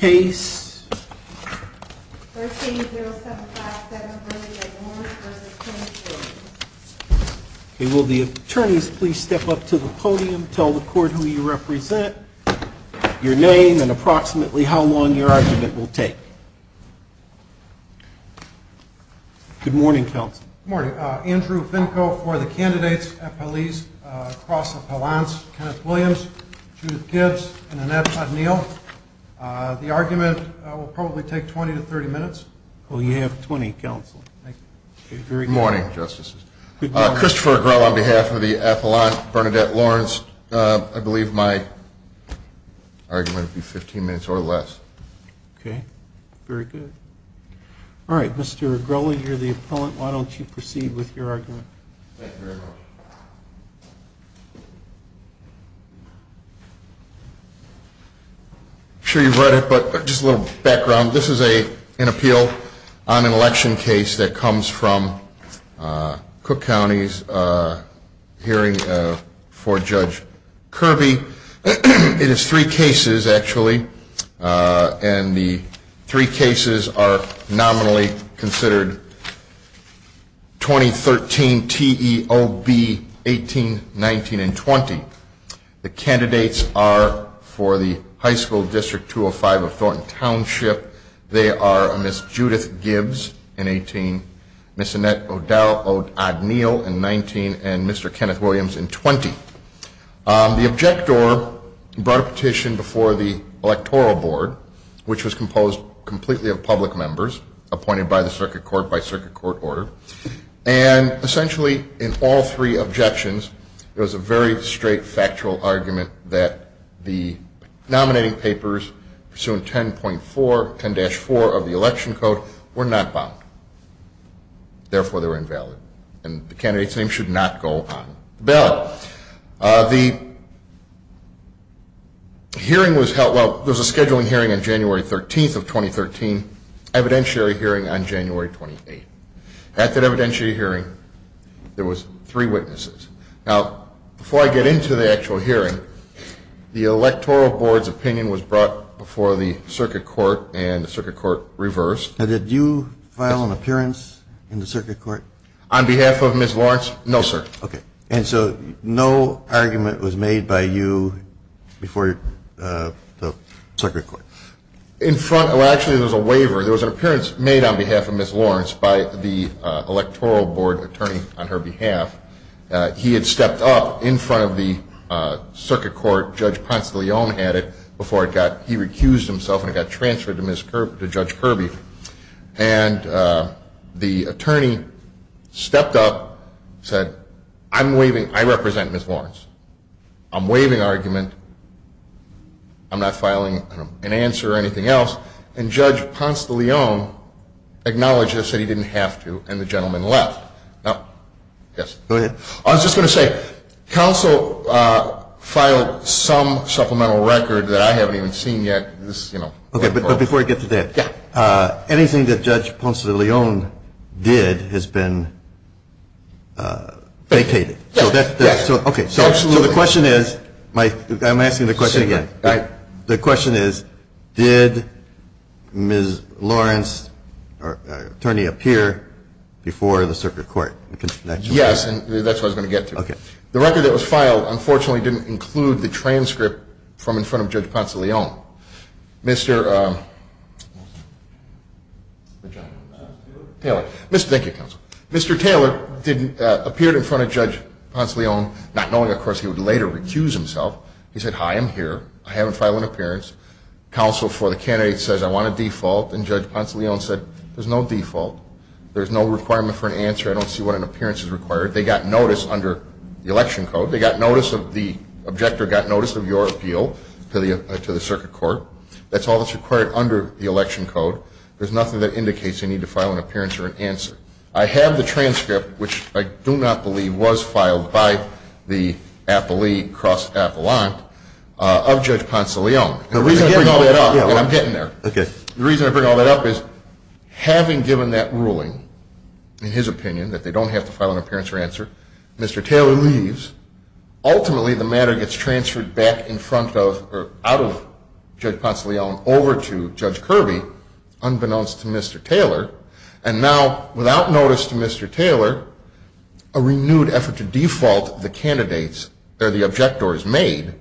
case. Will the attorneys please step up to the podium, tell the court who you represent, your name, and approximately how long your argument will take. Good morning, counsel. Good morning. Andrew Finko for the candidates at police across the balance. Kenneth Williams, Judith Gibbs, and Annette O'Neill. The argument will probably take 20 to 30 minutes. Oh, you have 20, counsel. Thank you. Good morning, justices. Christopher Agrola on behalf of the appellant, Bernadette Lawrence. I believe my argument will be 15 minutes or less. Okay. Very good. All right, Mr. Agrola, you're the appellant. Why don't you proceed with your argument. I'm sure you've read it, but just a little background. This is an appeal on an election case that comes from Cook County's hearing for Judge Kirby. It is three cases, actually, and the three cases are nominally considered 2013 TEOB 18, 19, and 20. The candidates are for the High School District 205 of Thornton Township. They are Ms. Judith Gibbs in 18, Ms. Annette O'Dowd-O'Neill in 19, and Mr. Kenneth Williams in 20. The objector brought a petition before the electoral board, which was composed completely of public members appointed by the circuit court by circuit court order, and essentially, in all three objections, it was a very straight, factual argument that the nominating papers pursuant 10.4, 10-4 of the election code were not bound. Therefore, they were invalid, and the candidate's name should not go on the bill. The hearing was held, well, there was a scheduling hearing on January 13th of 2013, evidentiary hearing on January 28th. At that evidentiary hearing, there was three witnesses. Now, before I get into the actual hearing, the electoral board's opinion was brought before the circuit court, and the circuit court reversed. And did you file an appearance in the circuit court? On behalf of Ms. Lawrence, no, sir. Okay. And so no argument was made by you before the circuit court? In front, well, actually, there was a waiver. There was an appearance made on behalf of Ms. Lawrence by the electoral board attorney on her behalf. He had stepped up in front of the circuit court. Judge Ponce de Leon had it before he recused himself and it got transferred to Judge Kirby. And the attorney stepped up, said, I'm waiving, I represent Ms. Lawrence. I'm waiving argument. I'm not filing an answer or anything else. And Judge Ponce de Leon acknowledged this and said he didn't have to, and the gentleman left. Now, yes, go ahead. I was just going to say, counsel filed some supplemental record that I haven't even seen yet. Okay, but before I get to that, anything that Judge Ponce de Leon did has been vacated. So the question is, I'm asking the question again. The question is, did Ms. Lawrence, our attorney, appear before the circuit court? Yes, and that's what I was going to get to. The record that was filed, unfortunately, didn't include the transcript from in front of Judge Ponce de Leon. Mr. Taylor, thank you, counsel. Mr. Taylor appeared in front of Judge Ponce de Leon, not knowing, of course, he would later recuse himself. He said, hi, I'm here. I haven't filed an appearance. Counsel for the candidate says, I want a default. And Judge Ponce de Leon said, there's no default. There's no requirement for an answer. I don't see what an appearance is required. They got notice under the election code. They got notice of the, objector got notice of your appeal to the circuit court. That's all that's required under the election code. There's nothing that indicates you need to file an appearance or an answer. I have the transcript, which I do not believe was filed by the appellee cross appellant of Judge Ponce de Leon. The reason I bring all that up, and I'm getting there, the reason I bring all that up is, having given that ruling, in his opinion, that they don't have to file an appearance or answer, Mr. Taylor leaves. Ultimately, the matter gets transferred back in front of, or out of Judge Ponce de Leon over to Judge Kirby, unbeknownst to Mr. Taylor. And now, without notice to Mr. Taylor, a renewed effort to default the candidates, or the objectors made,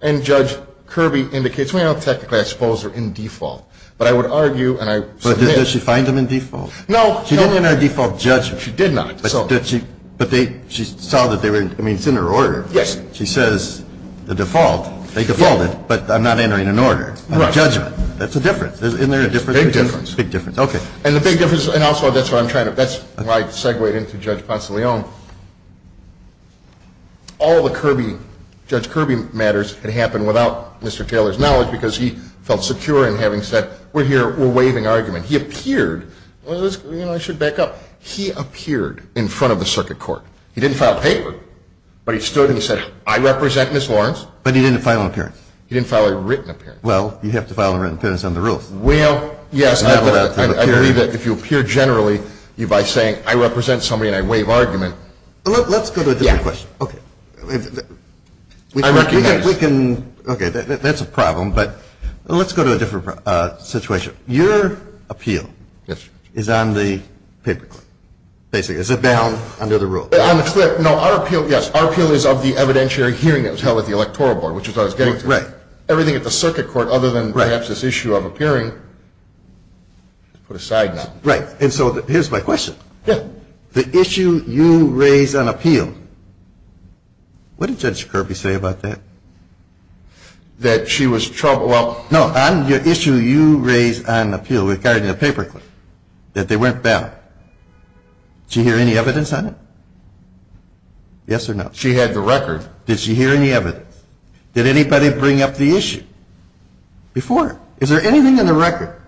and Judge Kirby indicates, well, technically I suppose they're in default. But I would argue, and I submit. But does she find them in default? No. She didn't enter a default judgment. She did not. But did she, but they, she saw that they were, I mean, it's in her order. Yes. She says the default, they defaulted, but I'm not entering an order, a judgment. That's a difference. Isn't there a difference? Big difference. Big difference. Okay. And the big difference, and also that's what I'm trying to, that's why I segued into Judge Ponce de Leon, all the Kirby, Judge Kirby matters had happened without Mr. Taylor's knowledge, because he felt secure in having said, we're here, we're waiving argument. He appeared, well, let's, you know, I should back up. He appeared in front of the circuit court. He didn't file a paper, but he stood and he said, I represent Ms. Lawrence. But he didn't file an appearance. He didn't file a written appearance. Well, you have to file a written appearance on the roof. Well, yes, I believe that if you appear generally, you, by saying, I represent somebody and I waive argument. Let's go to a different question. Okay. I recognize. We can, okay, that's a problem, but let's go to a different situation. Your appeal is on the paper. Basically, is it bound under the rule? On the clip, no, our appeal, yes, our appeal is of the evidentiary hearing that was held at the electoral board, which is what I was getting to. Right. Everything at the circuit court, other than perhaps this issue of appearing, put aside now. Right. And so here's my question. Yeah. The issue you raise on appeal, what did Judge Kirby say about that? That she was troubled. Well, no, on the issue you raise on appeal regarding the paper clip, that they weren't bound, did you hear any evidence on it? Yes or no? She had the record. Did she hear any evidence? Did anybody bring up the issue before? Is there anything in the record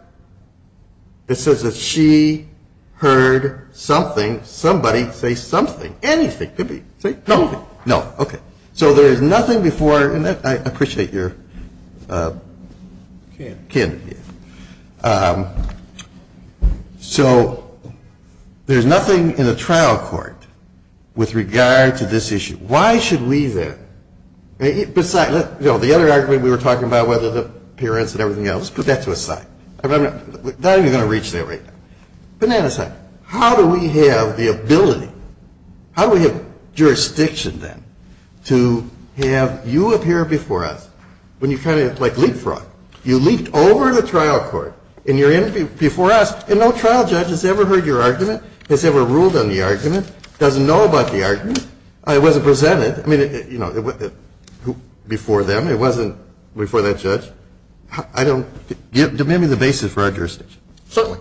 that says that she heard something, somebody say something, anything? Kirby, say something. No. Okay. So there is nothing before, and I appreciate your kin here. So there's nothing in the trial court with regard to this issue. Why should we then? Besides, you know, the other argument we were talking about, whether the appearance and everything else, put that to a side. I'm not even going to reach that right now. Put that aside. How do we have the ability, how do we have jurisdiction then to have you appear before us when you kind of like leapfrogged? You leaped over the trial court, and you're in before us, and no trial judge has ever heard your argument, has ever ruled on the argument, doesn't know about the argument. It wasn't presented. I mean, you know, before them. It wasn't before that judge. I don't. Give me the basis for our jurisdiction. Certainly.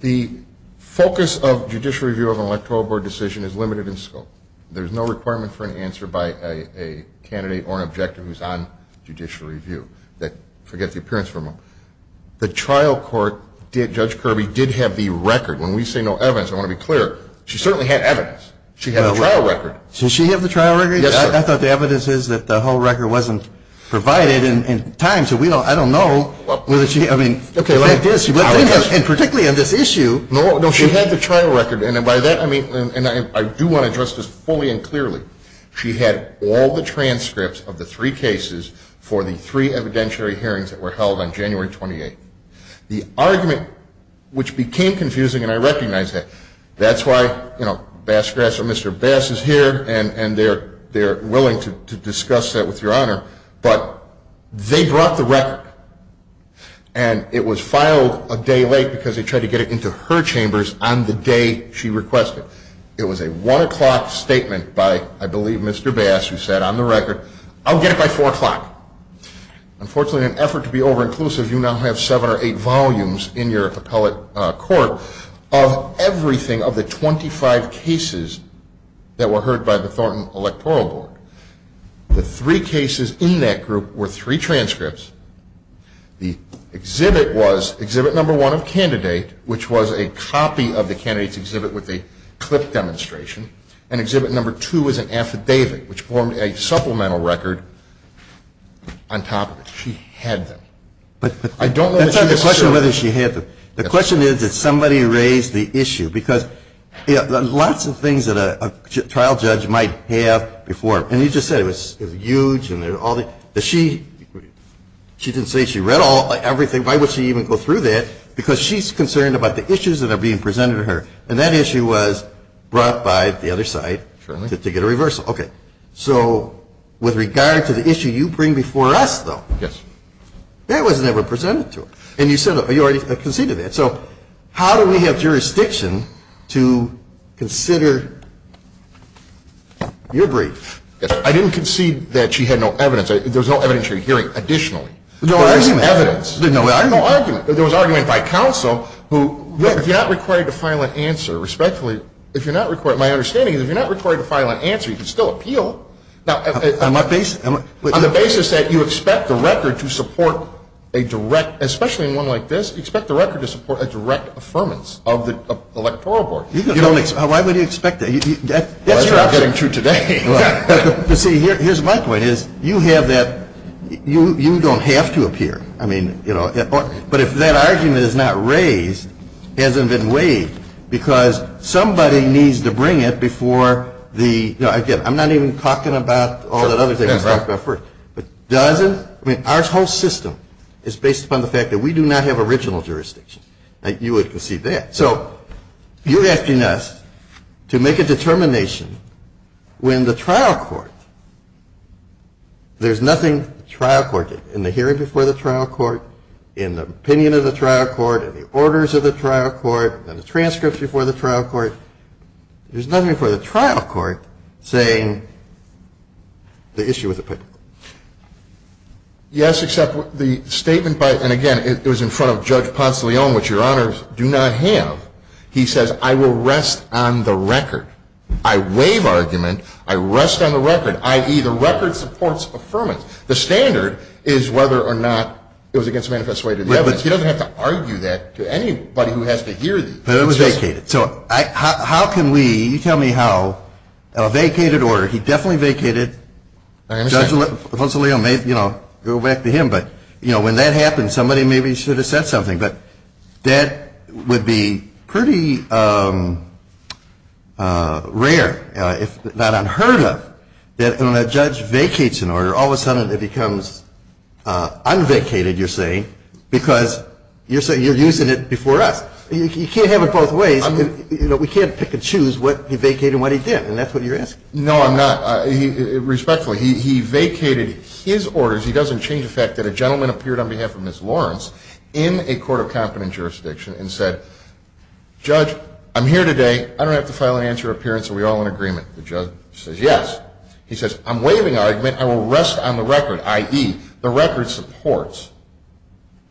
The focus of judicial review of an electoral board decision is limited in scope. There's no requirement for an answer by a candidate or an objector who's on judicial review that forget the appearance for a moment. The trial court, Judge Kirby did have the record. When we say no evidence, I want to be clear. She certainly had evidence. She had a trial record. Did she have the trial record? Yes, sir. I thought the evidence is that the whole record wasn't provided in time. So we don't, I don't know whether she, I mean. Okay, like this, and particularly on this issue. No, no, she had the trial record, and by that, I mean, and I do want to address this fully and clearly. She had all the transcripts of the three cases for the three evidentiary hearings that were held on January 28th. The argument, which became confusing, and I recognize that. That's why, you know, Mr. Bass is here, and they're willing to discuss that with your honor. But they brought the record, and it was filed a day late because they tried to get it into her chambers on the day she requested. It was a one o'clock statement by, I believe, Mr. Bass, who said on the record, I'll get it by four o'clock. Unfortunately, in an effort to be over-inclusive, you now have seven or eight volumes in your appellate court of everything of the 25 cases that were heard by the Thornton Electoral Board. The three cases in that group were three transcripts. The exhibit was exhibit number one of candidate, which was a copy of the candidate's exhibit with a clip demonstration. And exhibit number two was an affidavit, which formed a supplemental record on top of it. She had them. But I don't know if she was sure. That's not the question whether she had them. The question is, did somebody raise the issue? Because lots of things that a trial judge might have before, and you just said it was huge. And she didn't say she read everything. Why would she even go through that? Because she's concerned about the issues that are being presented to her. And that issue was brought by the other side to get a reversal. Okay. So with regard to the issue you bring before us, though. Yes. That was never presented to her. And you said, you already conceded that. So how do we have jurisdiction to consider your brief? I didn't concede that she had no evidence. There was no evidence you're hearing additionally. There was some evidence. There was argument by counsel who, if you're not required to file an answer, respectfully, if you're not required, my understanding is if you're not required to file an answer, you can still appeal. Now, on the basis that you expect the record to support a direct, especially in one like this, expect the record to support a direct affirmance of the electoral board. You don't expect, why would you expect that? That's not getting true today. See, here's my point is, you have that, you don't have to appear. I mean, you know, but if that argument is not raised, hasn't been waived, because somebody needs to bring it before the, you know, again, I'm not even talking about all the other things I talked about first. But doesn't, I mean, our whole system is based upon the fact that we do not have original jurisdiction. Now, you would concede that. So, you're asking us to make a determination when the trial court, there's nothing the trial court did in the hearing before the trial court, in the opinion of the trial court, in the orders of the trial court, in the transcripts before the trial court. There's nothing before the trial court saying the issue was applicable. Yes, except the statement by, and again, it was in front of Judge Ponce de Leon, which your honors do not have. He says, I will rest on the record. I waive argument, I rest on the record, i.e., the record supports affirmance. The standard is whether or not it was against the manifest way to the evidence. He doesn't have to argue that to anybody who has to hear these. But it was vacated. So, how can we, you tell me how, a vacated order, he definitely vacated, Judge Ponce de Leon may, you know, go back to him. But, you know, when that happens, somebody maybe should have said something. But that would be pretty rare, if not unheard of, that when a judge vacates an order, all of a sudden it becomes unvacated, you're saying, because you're using it before us. You can't have it both ways. You know, we can't pick and choose what he vacated and what he didn't, and that's what you're asking. No, I'm not. Respectfully, he vacated his orders. He doesn't change the fact that a gentleman appeared on behalf of Ms. Lawrence in a court of competent jurisdiction and said, Judge, I'm here today. I don't have to file an answer or appearance. Are we all in agreement? The judge says, yes. He says, I'm waiving argument. I will rest on the record, i.e., the record supports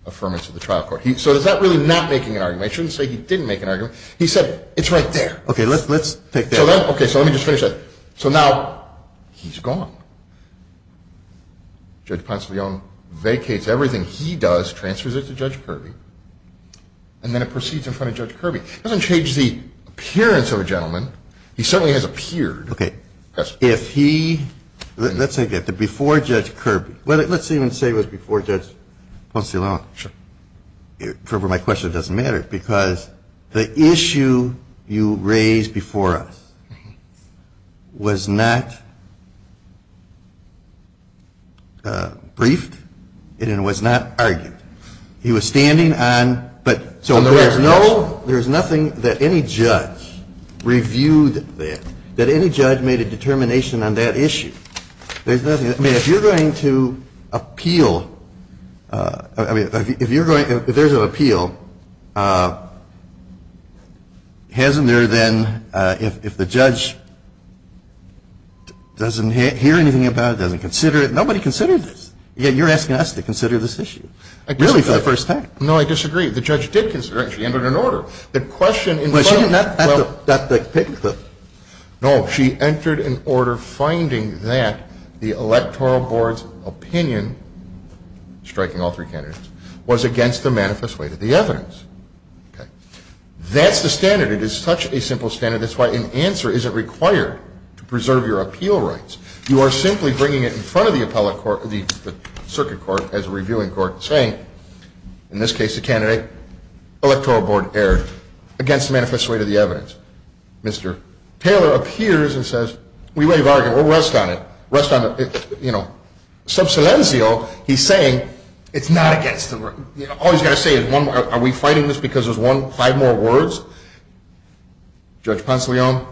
affirmance of the trial court. So, is that really not making an argument? I shouldn't say he didn't make an argument. He said, it's right there. Okay, let's take that. Okay, so let me just finish that. So, now, he's gone. Judge Ponce de Leon vacates everything he does, transfers it to Judge Kirby, and then it proceeds in front of Judge Kirby. It doesn't change the appearance of a gentleman. He certainly has appeared. Okay. If he, let's say, before Judge Kirby, let's even say it was before Judge Ponce de Leon. Sure. For my question, it doesn't matter, because the issue you raised before us was not briefed, and it was not argued. He was standing on, but so there's no, there's nothing that any judge reviewed that, that any judge made a determination on that issue. There's nothing that, I mean, if you're going to appeal, I mean, if you're going, if there's an appeal, hasn't there then, if the judge doesn't hear anything about it, doesn't consider it, nobody considered this. Yet, you're asking us to consider this issue, really, for the first time. No, I disagree. The judge did consider it. She entered an order. The question in front of her, well, Well, she did not, at the, at the paper clip. No, she entered an order finding that the electoral board's opinion, striking all three candidates, was against the manifest way to the evidence. That's the standard. It is such a simple standard. That's why an answer isn't required to preserve your appeal rights. You are simply bringing it in front of the appellate court, the circuit court, as a reviewing court, saying, in this case, the candidate electoral board erred against the manifest way to the evidence. Mr. Taylor appears and says, we may have argued, we'll rest on it, rest on the, you know. Subsilenzio, he's saying, it's not against the, you know, all he's got to say is one more, are we fighting this because there's one, five more words? Judge Ponsalian,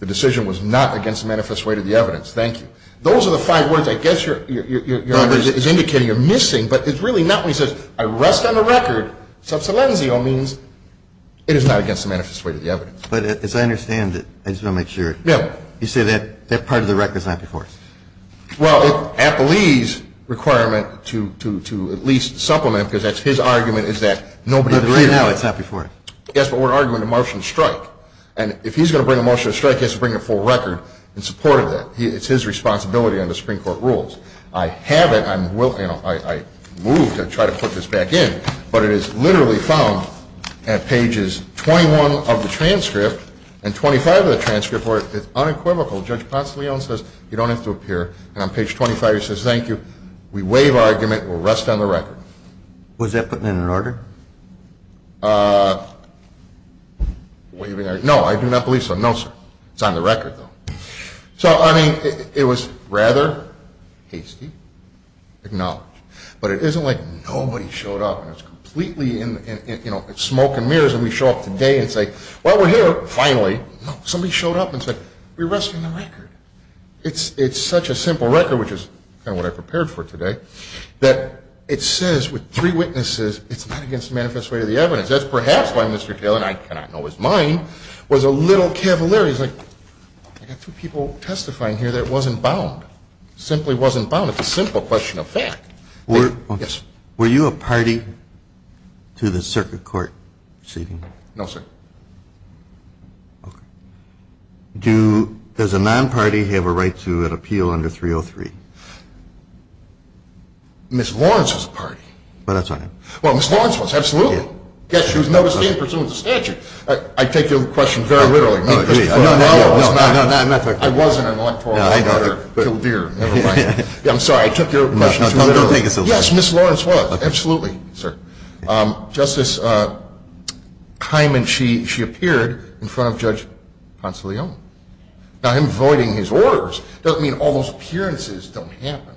the decision was not against the manifest way to the evidence. Thank you. Those are the five words I guess you're, you're, you're, you're under, is indicating you're missing. But it's really not when he says, I rest on the record. Subsilenzio means, it is not against the manifest way to the evidence. But as I understand it, I just want to make sure. Yeah. You say that, that part of the record's not before us. Well, if appellee's requirement to, to, to at least supplement, because that's his argument, is that nobody. But right now, it's not before us. Yes, but we're arguing a motion to strike. And if he's going to bring a motion to strike, he has to bring a full record in support of that. He, it's his responsibility under Supreme Court rules. I haven't, I'm willing, I, I moved to try to put this back in. But it is literally found at pages 21 of the transcript, and 25 of the transcript, where it's unequivocal. Judge Ponce de Leon says, you don't have to appear. And on page 25, he says, thank you. We waive our argument. We'll rest on the record. Was that put in an order? Waiving our, no, I do not believe so. No, sir. It's on the record, though. So, I mean, it, it was rather hasty, acknowledged. But it isn't like nobody showed up, and it's completely in, in, you know, it's smoke and mirrors. And we show up today and say, well, we're here, finally. Somebody showed up and said, we rest on the record. It's, it's such a simple record, which is kind of what I prepared for today. That it says, with three witnesses, it's not against the manifest way of the evidence. That's perhaps why Mr. Taylor, and I cannot know his mind, was a little cavalier. He's like, I got two people testifying here that wasn't bound. Simply wasn't bound. It's a simple question of fact. Were. Yes. Were you a party to the circuit court proceeding? No, sir. Do, does a non-party have a right to an appeal under 303? Ms. Lawrence was a party. Well, that's what I mean. Well, Ms. Lawrence was, absolutely. Yes, she was never seen pursuant to statute. I, I take your question very literally. No, no, no, no, no, no, I'm not talking. I wasn't an electoral voter. No, I know that. Till Deere, never mind. I'm sorry, I took your question too literally. Yes, Ms. Lawrence was, absolutely, sir. Justice Hyman, she, she appeared in front of Judge Ponce de Leon. Now, him voiding his orders doesn't mean all those appearances don't happen.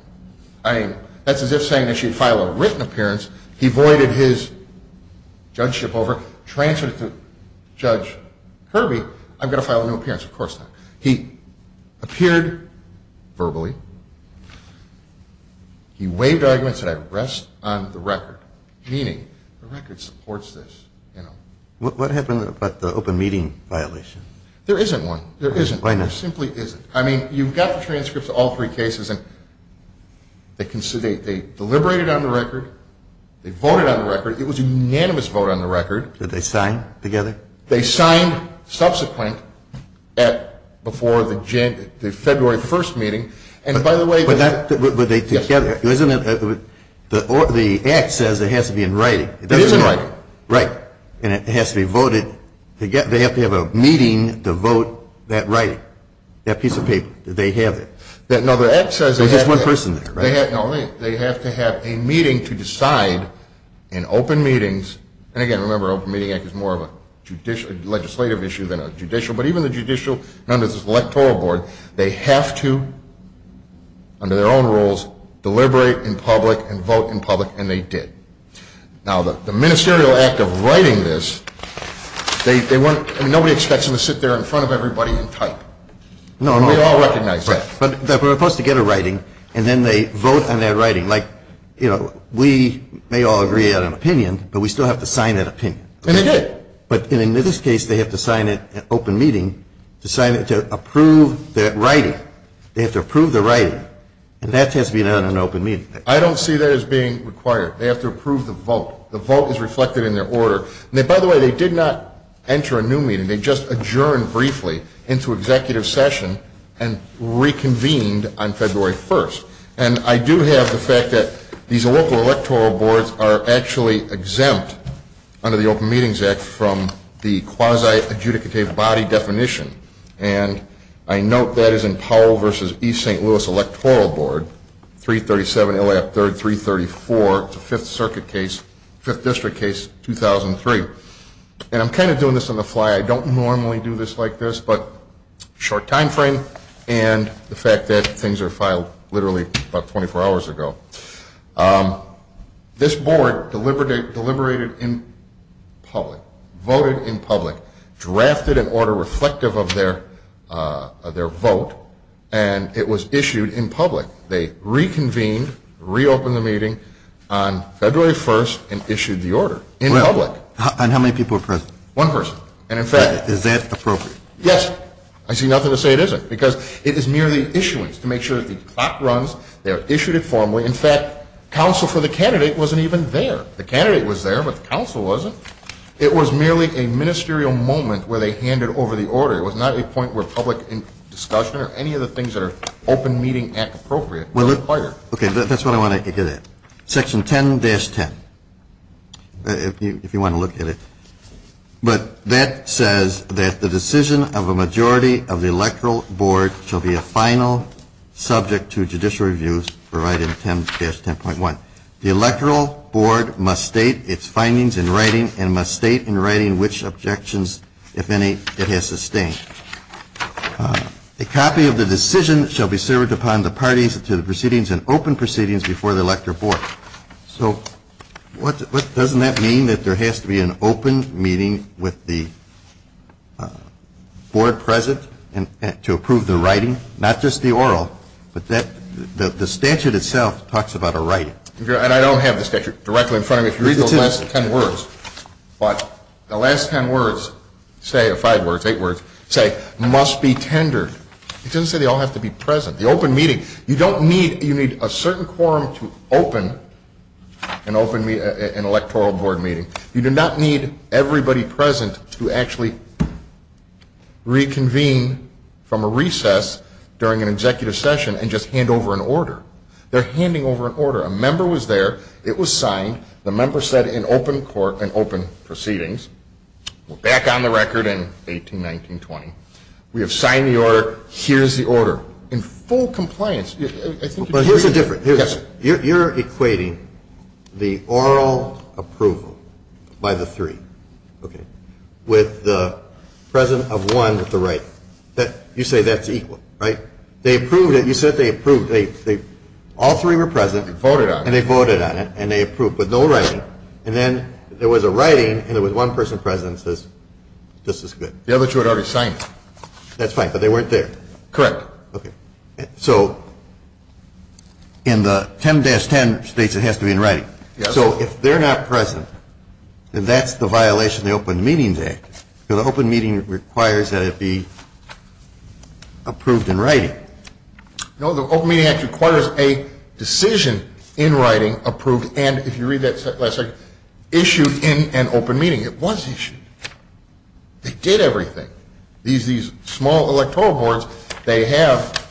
I mean, that's as if saying that she'd file a written appearance. He voided his judgeship over, transferred it to Judge Kirby. I've got to file a new appearance, of course not. He appeared verbally, he waived arguments that I rest on the record. Meaning, the record supports this, you know. What, what happened about the open meeting violation? There isn't one, there isn't one, there simply isn't. I mean, you've got the transcripts of all three cases and they, they deliberated on the record. They voted on the record. It was a unanimous vote on the record. Did they sign together? They signed subsequent at, before the January, the February 1st meeting. And by the way. But that, but, but they together, isn't it, the, the act says it has to be in writing. It is in writing. Right. And it has to be voted. They get, they have to have a meeting to vote that writing, that piece of paper. They have it. That, no, the act says. There's just one person there, right? They have, no, they, they have to have a meeting to decide in open meetings. And again, remember, Open Meeting Act is more of a judicial, legislative issue than a judicial. But even the judicial, and under this electoral board, they have to, under their own rules, deliberate in public and vote in public, and they did. Now, the, the ministerial act of writing this, they, they weren't, I mean, nobody expects them to sit there in front of everybody and type. No. We all recognize that. But, but we're supposed to get a writing, and then they vote on their writing. Like, you know, we may all agree on an opinion, but we still have to sign that opinion. And they did. But in, in this case, they have to sign it, an open meeting, to sign it, to approve that writing. They have to approve the writing. And that has to be done in an open meeting. I don't see that as being required. They have to approve the vote. The vote is reflected in their order. And they, by the way, they did not enter a new meeting. They just adjourned briefly into executive session and reconvened on February 1st. And I do have the fact that these local electoral boards are actually exempt under the Open Meetings Act from the quasi-adjudicative body definition. And I note that is in Powell versus East St. Louis Electoral Board, 337 LAF 3334, the 5th Circuit case, 5th District case 2003. And I'm kind of doing this on the fly. I don't normally do this like this, but short time frame and the fact that things are filed literally about 24 hours ago. This board deliberated in public, voted in public, drafted an order reflective of their vote, and it was issued in public. They reconvened, reopened the meeting on February 1st, and issued the order in public. And how many people are present? One person. And in fact- Is that appropriate? Yes. I see nothing to say it isn't, because it is merely issuance to make sure that the clock runs, they are issued informally. In fact, counsel for the candidate wasn't even there. The candidate was there, but the counsel wasn't. It was merely a ministerial moment where they handed over the order. It was not a point where public discussion or any of the things that are Open Meeting Act appropriate were required. Okay, that's what I want to get at. Section 10-10, if you want to look at it. But that says that the decision of a majority of the Electoral Board shall be a final subject to judicial reviews provided in 10-10.1. The Electoral Board must state its findings in writing and must state in writing which objections, if any, it has sustained. A copy of the decision shall be served upon the parties to the proceedings in open proceedings before the Electoral Board. So what, doesn't that mean that there has to be an open meeting with the board present to approve the writing? Not just the oral, but the statute itself talks about a writing. And I don't have the statute directly in front of me. If you read those last ten words, but the last ten words say, or five words, eight words, say must be tendered. It doesn't say they all have to be present. The open meeting, you don't need, you need a certain quorum to open an Electoral Board meeting. You do not need everybody present to actually reconvene from a recess during an executive session and just hand over an order. They're handing over an order. A member was there. It was signed. The member said in open court and open proceedings. We're back on the record in 18-19-20. We have signed the order. Here's the order. In full compliance, I think you'd agree. But here's the difference. Yes. You're equating the oral approval by the three, okay, with the presence of one at the writing. That, you say that's equal, right? They approved it. You said they approved. They, all three were present. Voted on it. And they voted on it. And they approved with no writing. And then there was a writing, and there was one person present that says, this is good. The other two had already signed it. That's fine, but they weren't there. Correct. Okay. So in the 10-10 states, it has to be in writing. Yes. So if they're not present, then that's the violation of the Open Meetings Act. The Open Meeting requires that it be approved in writing. No, the Open Meeting Act requires a decision in writing approved and, if you read that last second, issued in an open meeting. It was issued. They did everything. These small electoral boards, they have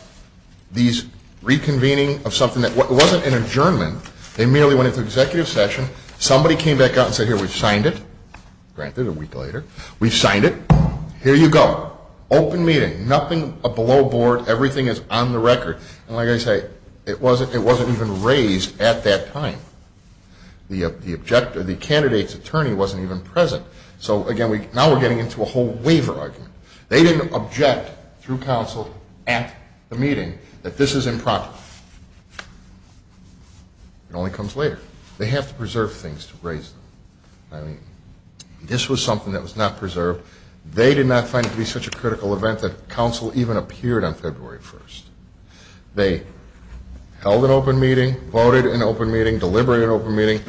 these reconvening of something that wasn't an adjournment. They merely went into executive session. Somebody came back out and said, here, we've signed it. Granted, a week later. We've signed it. Here you go. Open meeting. Nothing below board. Everything is on the record. And like I say, it wasn't even raised at that time. The objector, the candidate's attorney wasn't even present. So, again, now we're getting into a whole waiver argument. They didn't object through counsel at the meeting that this is improper. It only comes later. They have to preserve things to raise them. I mean, this was something that was not preserved. They did not find it to be such a critical event that counsel even appeared on February 1st. They held an open meeting, voted an open meeting, deliberated an open meeting,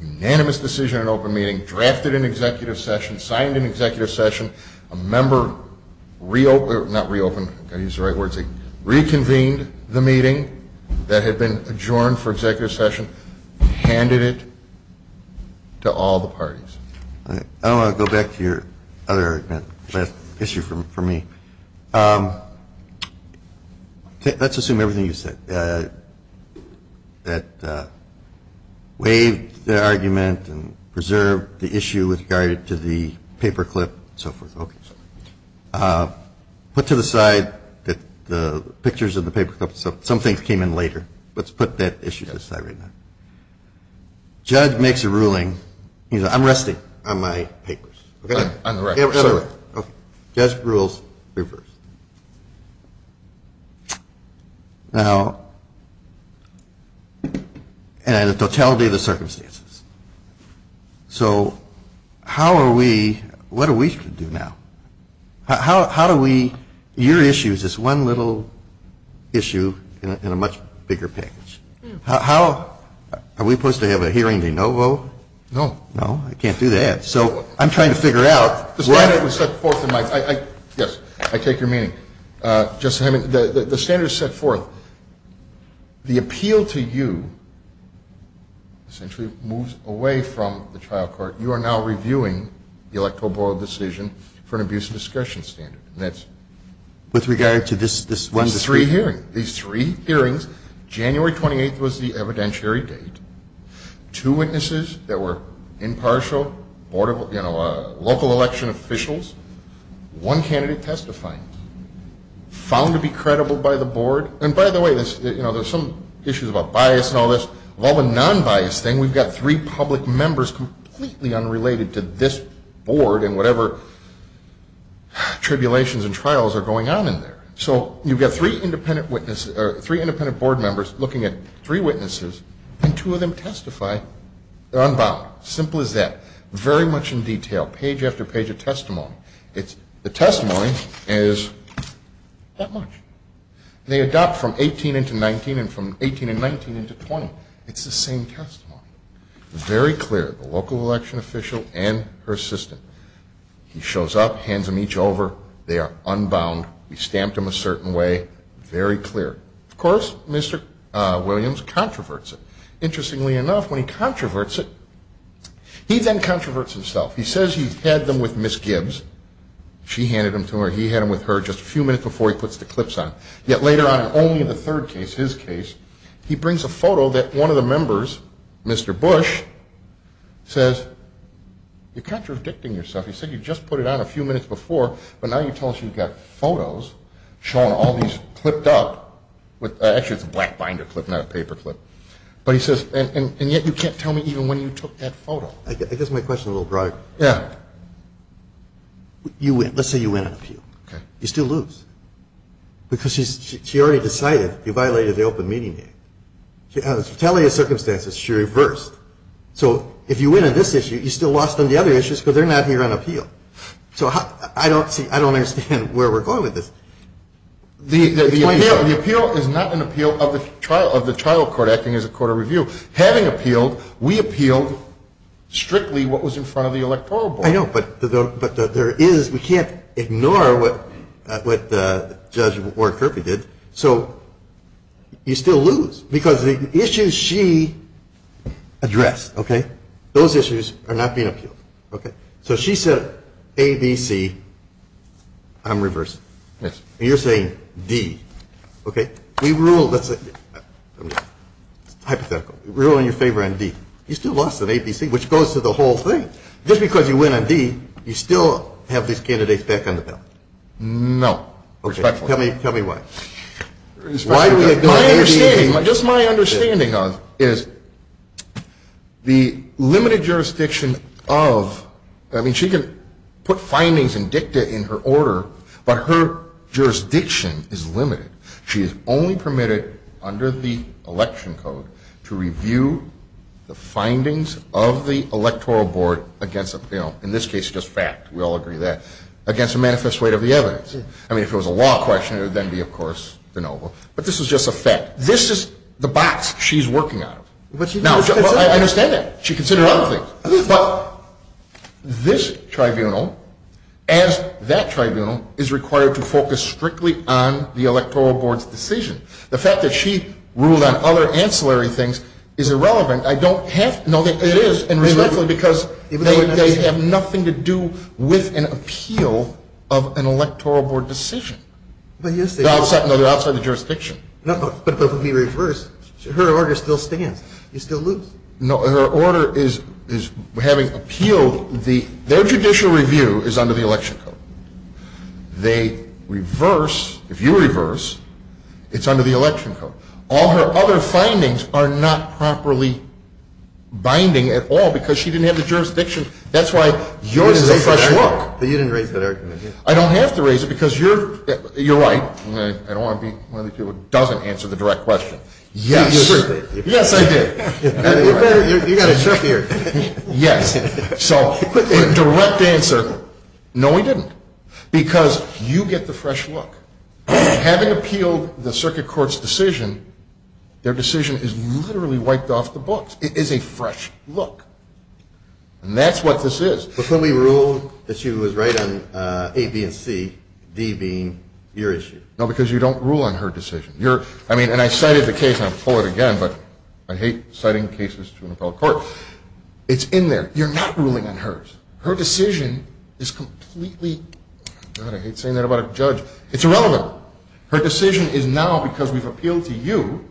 unanimous decision in an open meeting, drafted an executive session, signed an executive session. A member, not reopened, I've got to use the right words, reconvened the meeting that had been adjourned for executive session, handed it to all the parties. I want to go back to your other issue for me. Let's assume everything you said. That waived the argument and preserved the issue with regard to the paper clip and so forth. Okay. Put to the side the pictures of the paper clip. Some things came in later. Let's put that issue to the side right now. Judge makes a ruling. I'm resting on my papers. On the right. Okay. Judge rules. You're first. Now, and the totality of the circumstances. So how are we, what are we to do now? How do we, your issue is this one little issue in a much bigger package. How, are we supposed to have a hearing de novo? No. No, I can't do that. So I'm trying to figure out. The standard was set forth in my, yes, I take your meaning. The standard is set forth. The appeal to you essentially moves away from the trial court. You are now reviewing the electoral board decision for an abuse of discretion standard. With regard to this one dispute. These three hearings, January 28th was the evidentiary date. Two witnesses that were impartial, local election officials. One candidate testifying. Found to be credible by the board. And by the way, there's some issues about bias and all this. Well, the non-bias thing, we've got three public members completely unrelated to this board and whatever tribulations and trials are going on in there. So you've got three independent witnesses, three independent board members looking at three witnesses and two of them testify, they're unbound. Simple as that. Very much in detail. Page after page of testimony. The testimony is that much. They adopt from 18 into 19 and from 18 and 19 into 20. It's the same testimony. Very clear. The local election official and her assistant. He shows up, hands them each over. They are unbound. We stamped them a certain way. Very clear. Of course, Mr. Williams controverts it. Interestingly enough, when he controverts it, he then controverts himself. He says he had them with Ms. Gibbs. She handed them to her. He had them with her just a few minutes before he puts the clips on. Yet later on, only in the third case, his case, he brings a photo that one of the members, Mr. Bush, says, you're contradicting yourself. He said you just put it on a few minutes before, but now you tell us you've got photos showing all these clipped up. Actually, it's a black binder clip, not a paper clip. But he says, and yet you can't tell me even when you took that photo. I guess my question is a little broader. You win. Let's say you win an appeal. You still lose. Because she already decided you violated the Open Meeting Act. She has retaliated circumstances. She reversed. So if you win on this issue, you still lost on the other issues because they're not here on appeal. So I don't see, I don't understand where we're going with this. The appeal is not an appeal of the trial court acting as a court of review. Having appealed, we appealed strictly what was in front of the electoral board. I know, but there is, we can't ignore what Judge Ward-Kirby did. So you still lose because the issues she addressed, those issues are not being appealed. So she said A, B, C. I'm reversed. You're saying D. We rule, let's say, hypothetical, we rule in your favor on D. You still lost on A, B, C, which goes to the whole thing. Just because you win on D, you still have these candidates back on the ballot. No. Respectfully. Tell me why. My understanding, just my understanding is the limited jurisdiction of, I mean she can put findings and dicta in her order, but her jurisdiction is limited. She is only permitted under the election code to review the findings of the electoral board against, in this case just fact, we all agree that, against the manifest weight of the evidence. I mean, if it was a law question, it would then be, of course, de novo. But this was just a fact. This is the box she's working out of. But she did. I understand that. She considered other things. But this tribunal, as that tribunal, is required to focus strictly on the electoral board's decision. The fact that she ruled on other ancillary things is irrelevant. I don't have to know that it is, and respectfully, because they have nothing to do with an appeal of an electoral board decision. But yes, they do. They're outside the jurisdiction. No, but if we reverse, her order still stands. You still lose. No, her order is having appealed, their judicial review is under the election code. They reverse, if you reverse, it's under the election code. All her other findings are not properly binding at all because she didn't have the jurisdiction. That's why yours is a fresh look. But you didn't raise that argument. I don't have to raise it because you're right, I don't want to be one of those people who doesn't answer the direct question. Yes. Yes, I did. You got it trickier. Yes. So a direct answer, no, we didn't, because you get the fresh look. Having appealed the circuit court's decision, their decision is literally wiped off the books. It is a fresh look. And that's what this is. But couldn't we rule that she was right on A, B, and C, D being your issue? No, because you don't rule on her decision. And I cited the case, I'll pull it again, but I hate citing cases to an appellate court. It's in there. You're not ruling on hers. Her decision is completely, I hate saying that about a judge, it's irrelevant. Her decision is now, because we've appealed to you,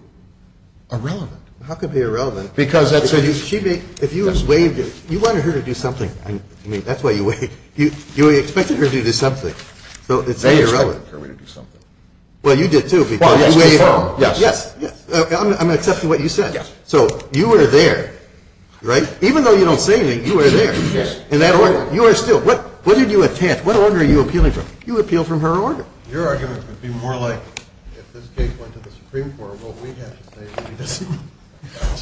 irrelevant. How could it be irrelevant? Because that's her decision. She may, if you waived it, you wanted her to do something, I mean, that's why you waived, you expected her to do something. So it's irrelevant. They expected her to do something. Well, you did too. Well, yes. Yes. I'm accepting what you said. Yes. So you were there, right? Even though you don't say anything, you were there. Yes. In that order, you are still. What order are you appealing from? You appeal from her order. Your argument would be more like, if this case went to the Supreme Court, well, we have to say that she doesn't.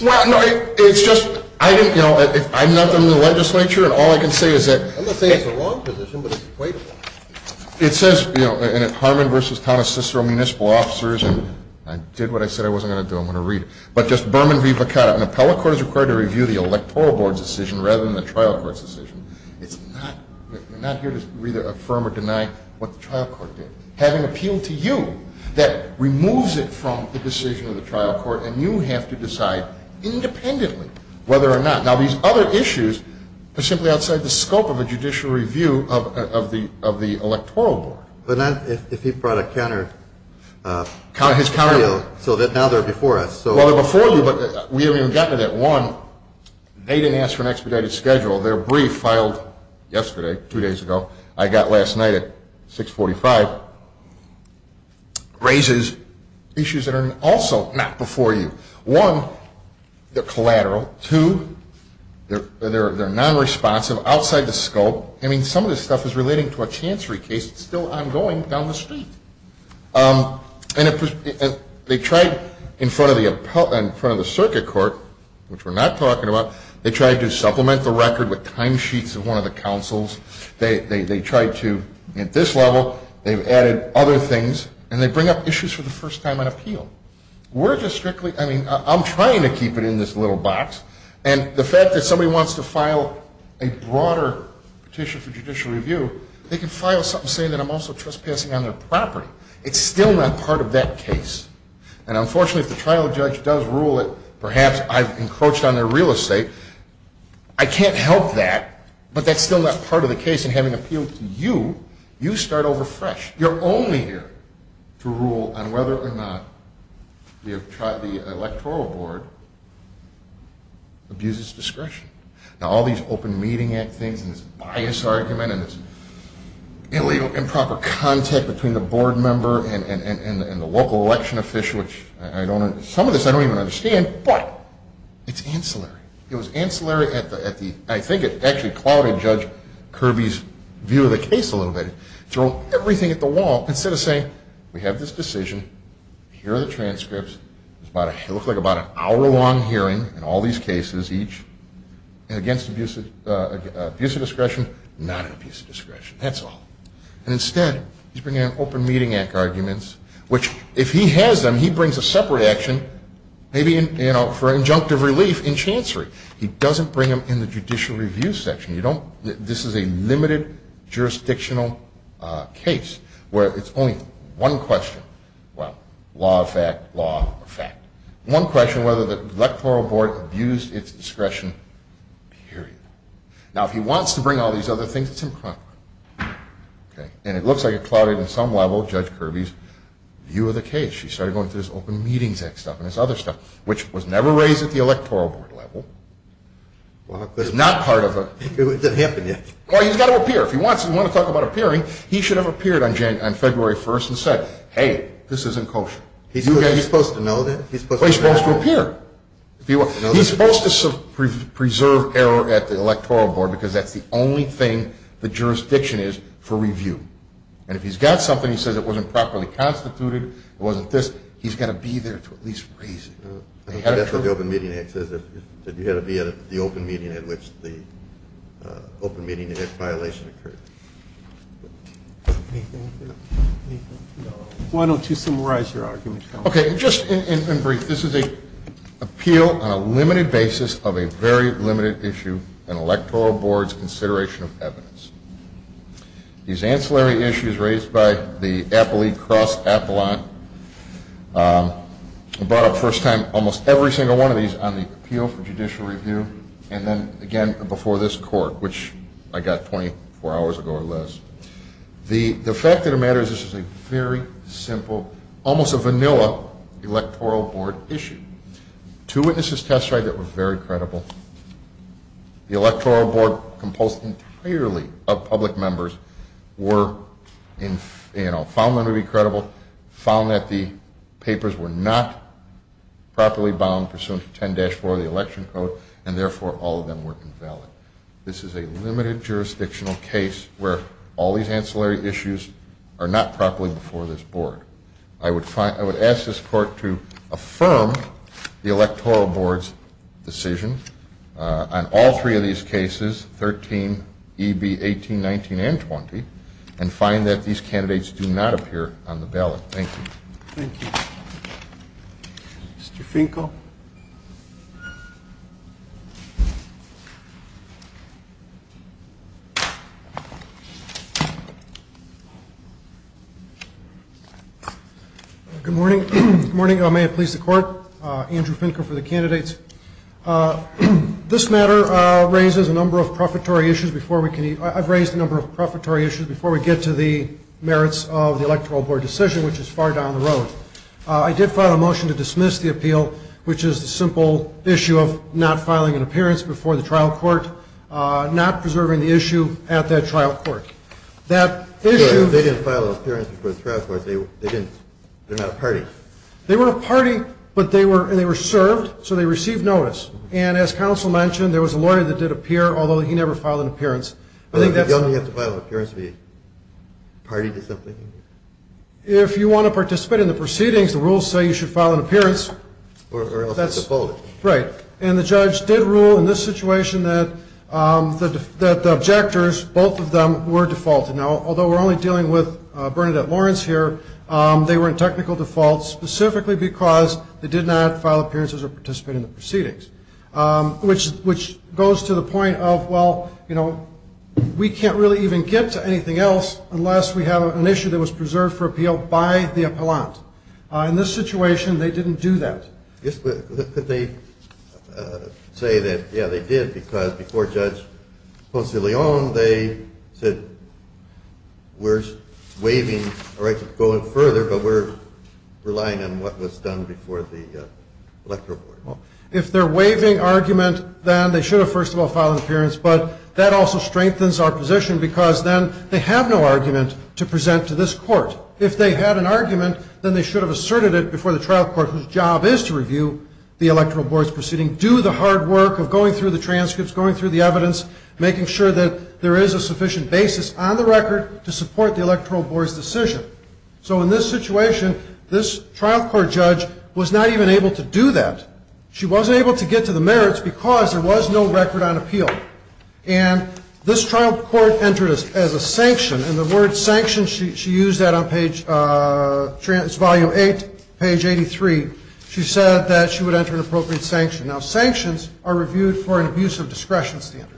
Well, no. It's just, I didn't, you know, I'm not in the legislature, and all I can say is that I'm not saying it's a wrong position, but it's quite wrong. It says, you know, in Harmon v. Thomas Cicero Municipal Officers, and I did what I said I wasn't going to do, I'm going to read it. But just Berman v. Vicara, an appellate court is required to review the electoral board's decision rather than the trial court's decision. It's not, you're not here to either affirm or deny what the trial court did. Having appealed to you, that removes it from the decision of the trial court, and you have to decide independently whether or not. Now, these other issues are simply outside the scope of a judicial review of the electoral board. But not if he brought a counter, so that now they're before us. Well, they're before you, but we haven't even gotten to that. One, they didn't ask for an expedited schedule. Their brief filed yesterday, two days ago, I got last night at 645, raises issues that are also not before you. One, they're collateral. Two, they're non-responsive, outside the scope. I mean, some of this stuff is relating to a chancery case that's still ongoing down the street. And they tried in front of the circuit court, which we're not talking about, they tried to supplement the record with timesheets of one of the counsels. They tried to, at this level, they've added other things, and they bring up issues for the first time on appeal. We're just strictly, I mean, I'm trying to keep it in this little box. And the fact that somebody wants to file a broader petition for judicial review, they can file something saying that I'm also trespassing on their property. It's still not part of that case. And unfortunately, if the trial judge does rule it, perhaps I've encroached on their real estate. I can't help that, but that's still not part of the case in having appeal to you. You start over fresh. You're only here to rule on whether or not the electoral board abuses discretion. Now, all these Open Meeting Act things and this bias argument and this illegal improper contact between the board member and the local election official, which I don't, some of this I don't even understand, but it's ancillary. It was ancillary at the, I think it actually clouded Judge Kirby's view of the case a little bit. Threw everything at the wall. Instead of saying, we have this decision, here are the transcripts, it looks like about an hour-long hearing in all these cases, each, against abuse of discretion, not an abuse of discretion. That's all. And instead, he's bringing in Open Meeting Act arguments, which if he has them, he brings a separate action, maybe for injunctive relief in chancery. He doesn't bring them in the judicial review section. You don't, this is a limited jurisdictional case where it's only one question, well, law of fact, law of fact. One question whether the electoral board abused its discretion, period. Now if he wants to bring all these other things, it's improper. And it looks like it clouded, on some level, Judge Kirby's view of the case. She started going through this Open Meeting Act stuff and this other stuff, which was never raised at the electoral board level. Well, it's not part of a... It didn't happen yet. Well, he's got to appear. If he wants to talk about appearing, he should have appeared on February 1st and said, hey, this isn't kosher. He's supposed to know that? Well, he's supposed to appear. He's supposed to preserve error at the electoral board because that's the only thing the jurisdiction is for review. And if he's got something, he says it wasn't properly constituted, it wasn't this, he's got to be there to at least raise it. I think that's what the Open Meeting Act says, that you have to be at the open meeting at which the Open Meeting Act violation occurred. Anything? No. Anything? No. Why don't you summarize your argument? Okay. Just in brief. This is an appeal on a limited basis of a very limited issue, an electoral board's consideration of evidence. These ancillary issues raised by the Appellee Cross Appellant, I brought up the first time almost every single one of these on the Appeal for Judicial Review and then again before this Court, which I got 24 hours ago or less. The fact of the matter is this is a very simple, almost a vanilla electoral board issue. Two witnesses testified that were very credible. The electoral board, composed entirely of public members, found them to be credible, found that the papers were not properly bound pursuant to 10-4 of the Election Code and therefore all of them were invalid. This is a limited jurisdictional case where all these ancillary issues are not properly before this board. I would ask this Court to affirm the electoral board's decision on all three of these cases, 13, EB, 18, 19, and 20, and find that these candidates do not appear on the ballot. Thank you. Thank you. Mr. Finkel? Good morning. Good morning. May it please the Court, Andrew Finkel for the candidates. This matter raises a number of prefatory issues before we can, I've raised a number of prefatory issues before we get to the merits of the electoral board decision, which is far down the road. I did file a motion to dismiss the appeal, which is the simple issue of not filing an appearance before the trial court, not preserving the issue at that trial court. That issue... They didn't file an appearance before the trial court, they didn't, they're not a party. They were a party, but they were served, so they received notice. And as counsel mentioned, there was a lawyer that did appear, although he never filed an appearance. I think that's... You only have to file an appearance to be a party to something? If you want to participate in the proceedings, the rules say you should file an appearance. Or else it's defaulted. Right. And the judge did rule in this situation that the objectors, both of them, were defaulted. Now, although we're only dealing with Bernadette Lawrence here, they were in technical default specifically because they did not file appearances or participate in the proceedings, which goes to the point of, well, you know, we can't really even get to anything else unless we have an issue that was preserved for appeal by the appellant. In this situation, they didn't do that. Could they say that, yeah, they did, because before Judge Ponce de Leon, they said, we're waiving a right to go in further, but we're relying on what was done before the electoral board. If they're waiving argument, then they should have, first of all, filed an appearance, but that also strengthens our position because then they have no argument to present to this court. If they had an argument, then they should have asserted it before the trial court, whose job is to review the electoral board's proceeding, do the hard work of going through the transcripts, going through the evidence, making sure that there is a sufficient basis on the record to support the electoral board's decision. So in this situation, this trial court judge was not even able to do that. She wasn't able to get to the merits because there was no record on appeal. And this trial court entered as a sanction, and the word sanction, she used that on page 8, page 83. She said that she would enter an appropriate sanction. Now, sanctions are reviewed for an abuse of discretion standard.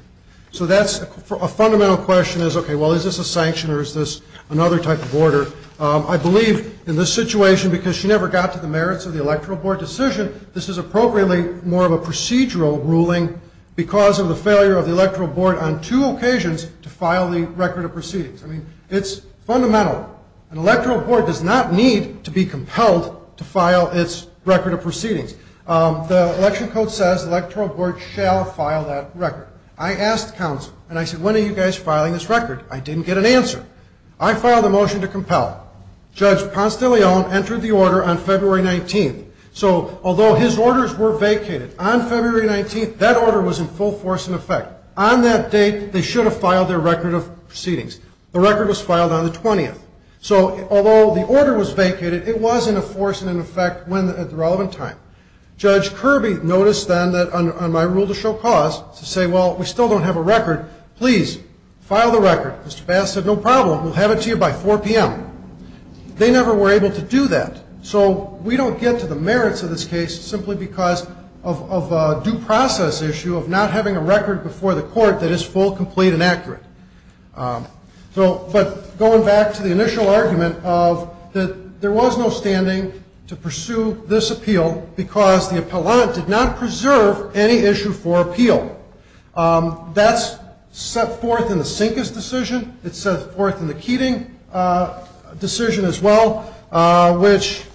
So that's a fundamental question is, OK, well, is this a sanction or is this another type of order? I believe in this situation, because she never got to the merits of the electoral board decision, this is appropriately more of a procedural ruling because of the failure of the electoral board on two occasions to file the record of proceedings. I mean, it's fundamental. An electoral board does not need to be compelled to file its record of proceedings. The election code says the electoral board shall file that record. I asked counsel, and I said, when are you guys filing this record? I didn't get an answer. I filed a motion to compel. Judge Ponce de Leon entered the order on February 19th. So although his orders were vacated, on February 19th, that order was in full force in effect. On that date, they should have filed their record of proceedings. The record was filed on the 20th. So although the order was vacated, it was in force and in effect at the relevant time. Judge Kirby noticed then that on my rule to show cause to say, well, we still don't have a record. Please file the record. Mr. Bass said, no problem. We'll have it to you by 4 p.m. They never were able to do that. So we don't get to the merits of this case simply because of a due process issue of not having a record before the court that is full, complete, and accurate. But going back to the initial argument of that there was no standing to pursue this appeal because the appellant did not preserve any issue for appeal. That's set forth in the Sinkes decision. It's set forth in the Keating decision as well, which,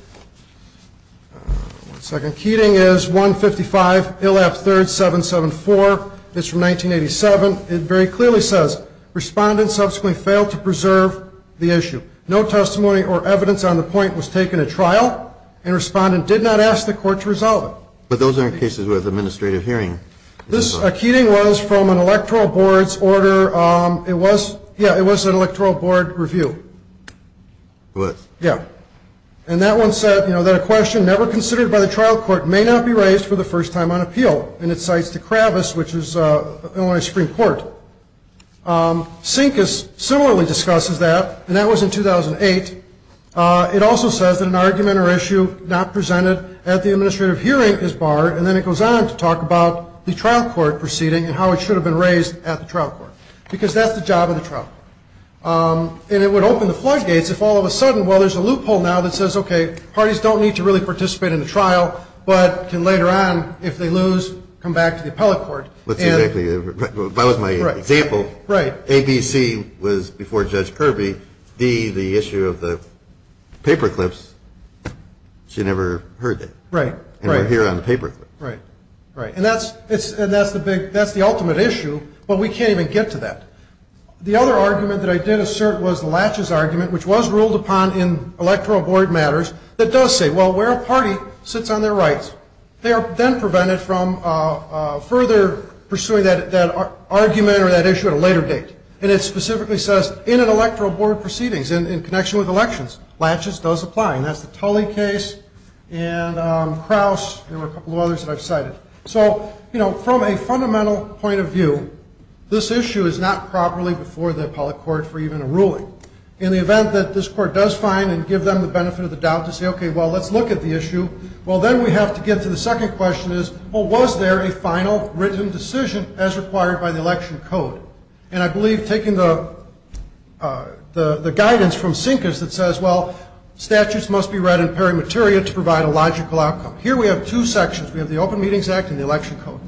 one second. Keating is 155, Illap III, 774. It's from 1987. It very clearly says, Respondent subsequently failed to preserve the issue. No testimony or evidence on the point was taken at trial, and Respondent did not ask the court to resolve it. But those aren't cases with administrative hearing. Keating was from an electoral board's order. Yeah, it was an electoral board review. It was. Yeah. And that one said that a question never considered by the trial court may not be raised for the first time on appeal, and it cites the Kravis, which is Illinois Supreme Court. Sinkes similarly discusses that, and that was in 2008. It also says that an argument or issue not presented at the administrative hearing is barred, and then it goes on to talk about the trial court proceeding and how it should have been raised at the trial court, because that's the job of the trial court. And it would open the floodgates if all of a sudden, well, there's a loophole now that says, okay, parties don't need to really participate in the trial but can later on, if they lose, come back to the appellate court. That was my example. Right. A, B, C was before Judge Kirby. D, the issue of the paperclips, she never heard that. Right. And we're here on the paperclip. Right. Right. And that's the big, that's the ultimate issue, but we can't even get to that. The other argument that I did assert was the Latches argument, which was ruled upon in electoral board matters, that does say, well, where a party sits on their rights, they are then prevented from further pursuing that argument or that issue at a later date. And it specifically says, in an electoral board proceedings, in connection with elections, Latches does apply. And that's the Tully case and Crouse. There were a couple of others that I've cited. So, you know, from a fundamental point of view, this issue is not properly before the appellate court for even a ruling. In the event that this court does find and give them the benefit of the doubt to say, okay, well, let's look at the issue, well, then we have to get to the second question is, well, was there a final written decision as required by the election code? And I believe taking the guidance from Sinkis that says, well, statutes must be read in peri materia to provide a logical outcome. Here we have two sections. We have the Open Meetings Act and the election code.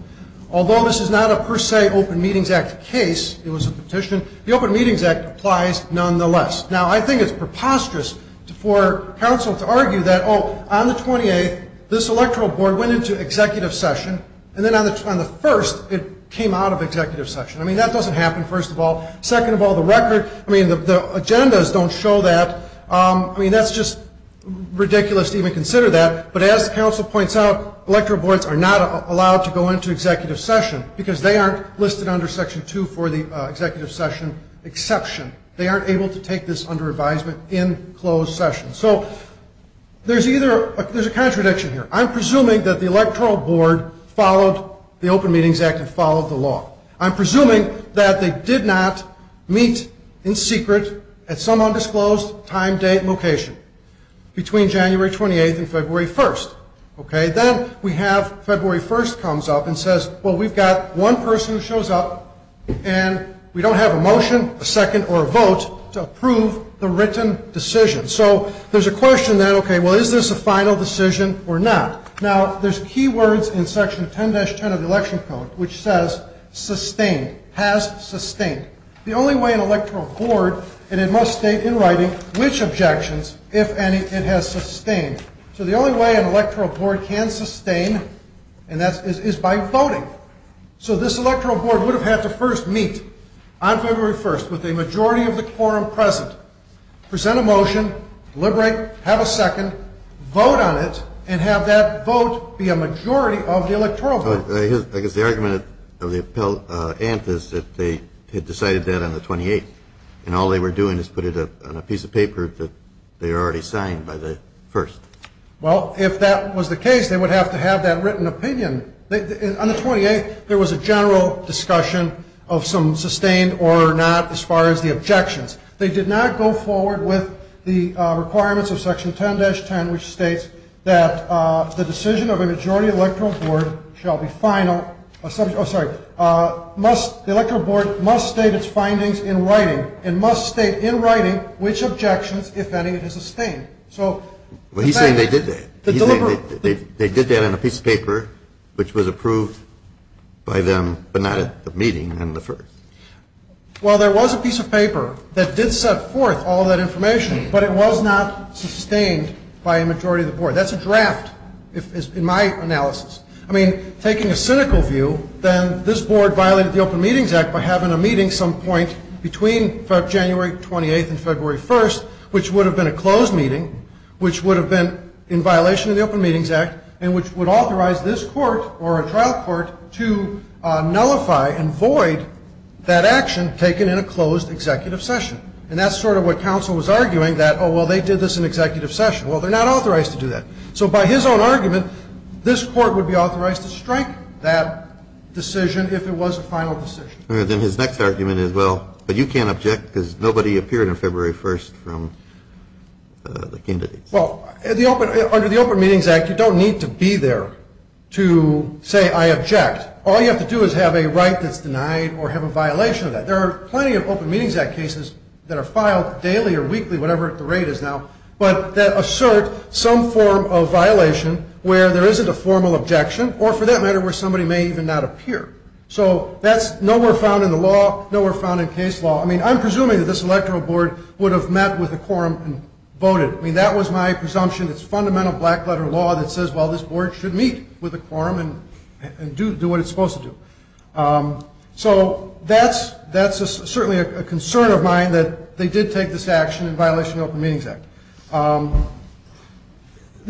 Although this is not a per se Open Meetings Act case, it was a petition, the Open Meetings Act applies nonetheless. Now, I think it's preposterous for counsel to argue that, oh, on the 28th, this electoral board went into executive session, and then on the 1st, it came out of executive session. I mean, that doesn't happen, first of all. Second of all, the record, I mean, the agendas don't show that. I mean, that's just ridiculous to even consider that. But as counsel points out, electoral boards are not allowed to go into executive session because they aren't listed under Section 2 for the executive session exception. They aren't able to take this under advisement in closed session. So there's a contradiction here. I'm presuming that the electoral board followed the Open Meetings Act and followed the law. I'm presuming that they did not meet in secret at some undisclosed time, date, location between January 28th and February 1st. Okay? Then we have February 1st comes up and says, well, we've got one person who shows up, and we don't have a motion, a second, or a vote to approve the written decision. So there's a question then, okay, well, is this a final decision or not? Now, there's key words in Section 10-10 of the Election Code which says sustained, has sustained. The only way an electoral board, and it must state in writing which objections, if any, it has sustained. So the only way an electoral board can sustain is by voting. So this electoral board would have had to first meet on February 1st with a majority of the quorum present, present a motion, deliberate, have a second, vote on it, and have that vote be a majority of the electoral board. I guess the argument of the appellant is that they had decided that on the 28th, and all they were doing is put it on a piece of paper that they had already signed by the 1st. Well, if that was the case, they would have to have that written opinion. On the 28th, there was a general discussion of some sustained or not as far as the objections. They did not go forward with the requirements of Section 10-10, which states that the decision of a majority electoral board shall be final, oh, sorry, the electoral board must state its findings in writing and must state in writing which objections, if any, it has sustained. Well, he's saying they did that. He's saying they did that on a piece of paper which was approved by them, but not at the meeting on the 1st. Well, there was a piece of paper that did set forth all that information, but it was not sustained by a majority of the board. That's a draft in my analysis. I mean, taking a cynical view, then this board violated the Open Meetings Act by having a meeting some point between January 28th and February 1st, which would have been a closed meeting, which would have been in violation of the Open Meetings Act, and which would authorize this court or a trial court to nullify and void that action taken in a closed executive session. And that's sort of what counsel was arguing, that, oh, well, they did this in executive session. Well, they're not authorized to do that. So by his own argument, this court would be authorized to strike that decision if it was a final decision. All right. Then his next argument is, well, but you can't object because nobody appeared on February 1st from the candidates. Well, under the Open Meetings Act, you don't need to be there to say I object. All you have to do is have a right that's denied or have a violation of that. There are plenty of Open Meetings Act cases that are filed daily or weekly, whatever the rate is now, but that assert some form of violation where there isn't a formal objection or, for that matter, where somebody may even not appear. So that's nowhere found in the law, nowhere found in case law. I mean, I'm presuming that this electoral board would have met with the quorum and voted. I mean, that was my presumption. It's fundamental black-letter law that says, well, this board should meet with the quorum and do what it's supposed to do. So that's certainly a concern of mine that they did take this action in violation of the Open Meetings Act.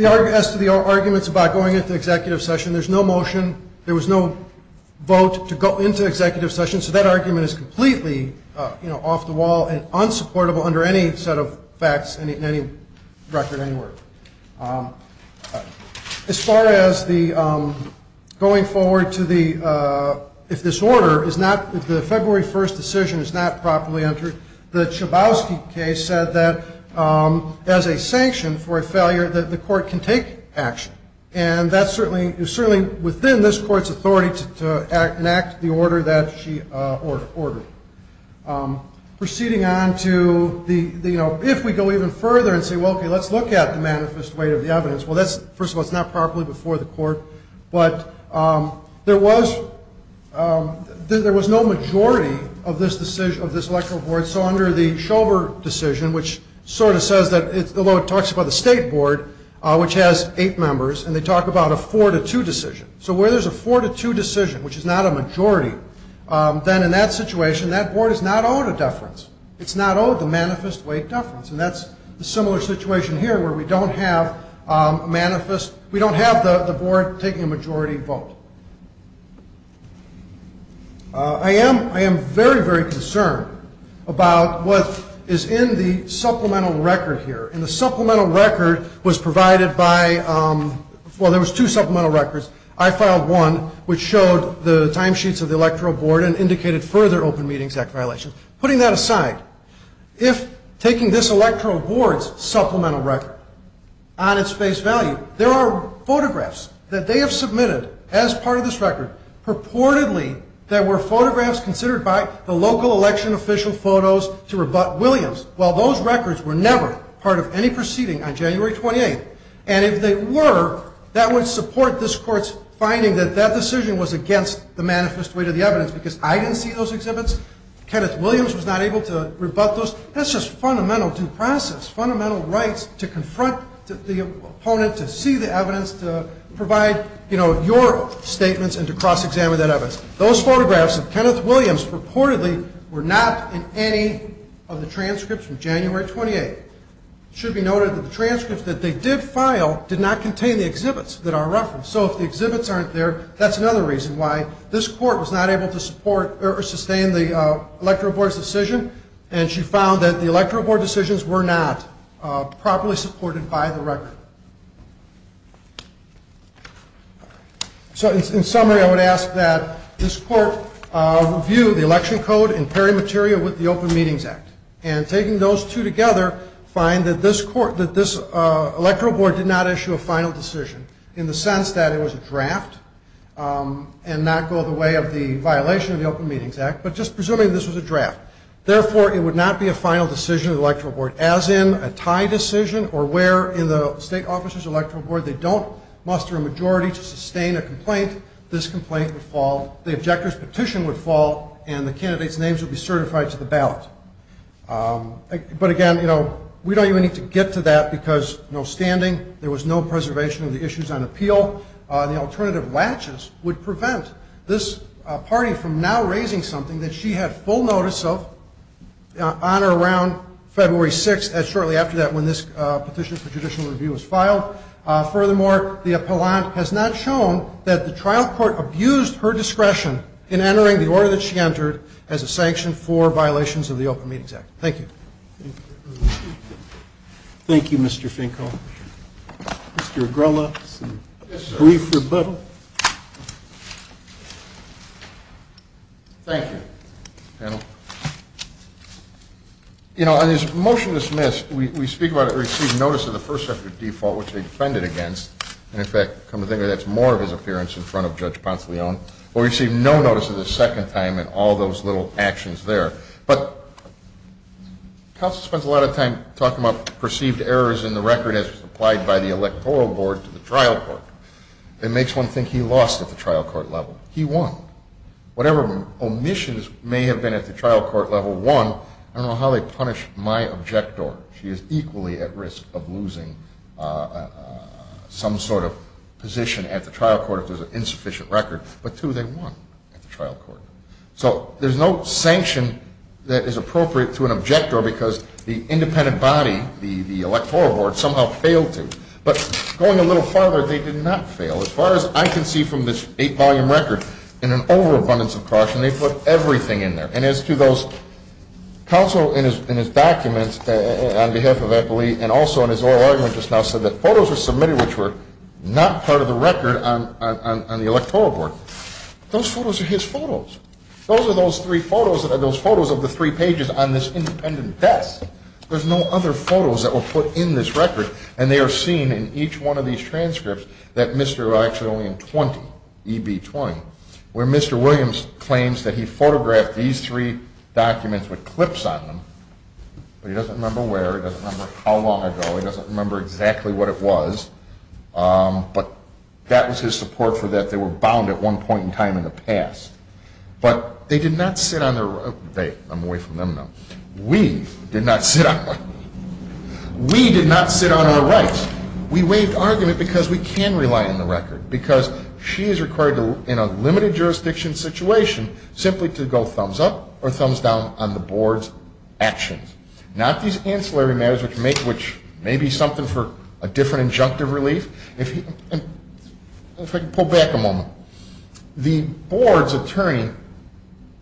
As to the arguments about going into executive session, there's no motion. There was no vote to go into executive session. So that argument is completely off the wall and unsupportable under any set of facts in any record anywhere. As far as the going forward to the ‑‑ if this order is not ‑‑ if the February 1st decision is not properly entered, the Chabowski case said that as a sanction for a failure that the court can take action. And that's certainly within this court's authority to enact the order that she ordered. Proceeding on to the, you know, if we go even further and say, well, okay, let's look at the manifest weight of the evidence. Well, first of all, that's not properly before the court. But there was no majority of this electoral board. So under the Shover decision, which sort of says that, although it talks about the state board, which has eight members, and they talk about a four‑to‑two decision. So where there's a four‑to‑two decision, which is not a majority, then in that situation, that board is not owed a deference. It's not owed the manifest weight deference. And that's a similar situation here where we don't have a manifest ‑‑ we don't have the board taking a majority vote. I am very, very concerned about what is in the supplemental record here. And the supplemental record was provided by ‑‑ well, there was two supplemental records. I filed one, which showed the timesheets of the electoral board and indicated further Open Meetings Act violations. Putting that aside, if taking this electoral board's supplemental record on its face value, there are photographs that they have submitted as part of this record purportedly that were photographs considered by the local election official photos to rebut Williams. Well, those records were never part of any proceeding on January 28th. And if they were, that would support this court's finding that that decision was against the manifest weight of the evidence. Because I didn't see those exhibits. Kenneth Williams was not able to rebut those. So that's just fundamental due process, fundamental rights to confront the opponent, to see the evidence, to provide, you know, your statements and to cross-examine that evidence. Those photographs of Kenneth Williams purportedly were not in any of the transcripts from January 28th. It should be noted that the transcripts that they did file did not contain the exhibits that are referenced. So if the exhibits aren't there, that's another reason why this court was not able to support or sustain the electoral board's decision, and she found that the electoral board decisions were not properly supported by the record. So in summary, I would ask that this court review the election code in pairing material with the Open Meetings Act, and taking those two together, find that this electoral board did not issue a final decision, in the sense that it was a draft and not go the way of the violation of the Open Meetings Act, but just presuming this was a draft. Therefore, it would not be a final decision of the electoral board, as in a tie decision or where in the state officer's electoral board they don't muster a majority to sustain a complaint, this complaint would fall, the objector's petition would fall, and the candidate's names would be certified to the ballot. But again, you know, we don't even need to get to that because no standing, there was no preservation of the issues on appeal. The alternative latches would prevent this party from now raising something that she had full notice of on or around February 6th, shortly after that when this petition for judicial review was filed. Furthermore, the appellant has not shown that the trial court abused her discretion in entering the order that she entered as a sanction for violations of the Open Meetings Act. Thank you. Thank you, Mr. Finkel. Mr. Agrola, some brief rebuttal. Thank you, panel. You know, on this motion dismissed, we speak about it received notice of the first-sector default, which they defended against, and, in fact, come to think of it, that's more of his appearance in front of Judge Ponce de Leon. We received no notice of the second time and all those little actions there. But counsel spends a lot of time talking about perceived errors in the record as applied by the electoral board to the trial court. It makes one think he lost at the trial court level. He won. Whatever omissions may have been at the trial court level, one, I don't know how they punished my objector. She is equally at risk of losing some sort of position at the trial court if there's an insufficient record. But, two, they won at the trial court. So there's no sanction that is appropriate to an objector because the independent body, the electoral board, somehow failed to. But going a little farther, they did not fail. As far as I can see from this eight-volume record, in an overabundance of caution, they put everything in there. And as to those, counsel in his documents on behalf of Eppley and also in his oral argument just now said that photos were submitted which were not part of the record on the electoral board. Those photos are his photos. Those are those three photos that are those photos of the three pages on this independent desk. There's no other photos that were put in this record. And they are seen in each one of these transcripts that Mr. actually only in 20, EB20, where Mr. Williams claims that he photographed these three documents with clips on them. But he doesn't remember where. He doesn't remember how long ago. He doesn't remember exactly what it was. But that was his support for that. They were bound at one point in time in the past. But they did not sit on their rights. I'm away from them now. We did not sit on our rights. We did not sit on our rights. We waived argument because we can rely on the record because she is required in a limited jurisdiction situation simply to go thumbs up or thumbs down on the board's actions. Not these ancillary matters which may be something for a different injunctive relief. If I could pull back a moment. The board's attorney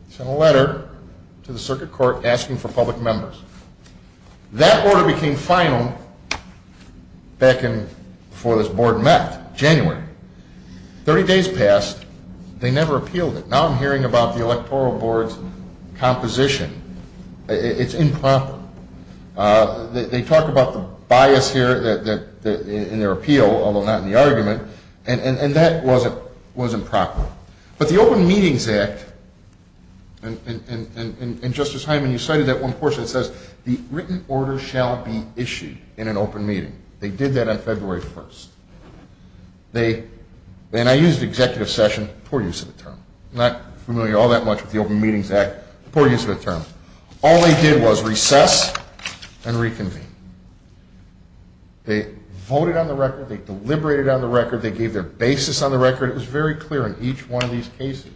sent a letter to the circuit court asking for public members. That order became final back before this board met, January. Thirty days passed. They never appealed it. Now I'm hearing about the electoral board's composition. It's improper. They talk about the bias here in their appeal, although not in the argument. And that was improper. But the Open Meetings Act, and Justice Hyman, you cited that one portion that says, the written order shall be issued in an open meeting. They did that on February 1st. And I used executive session, poor use of the term. I'm not familiar all that much with the Open Meetings Act, poor use of the term. All they did was recess and reconvene. They voted on the record. They deliberated on the record. They gave their basis on the record. It was very clear in each one of these cases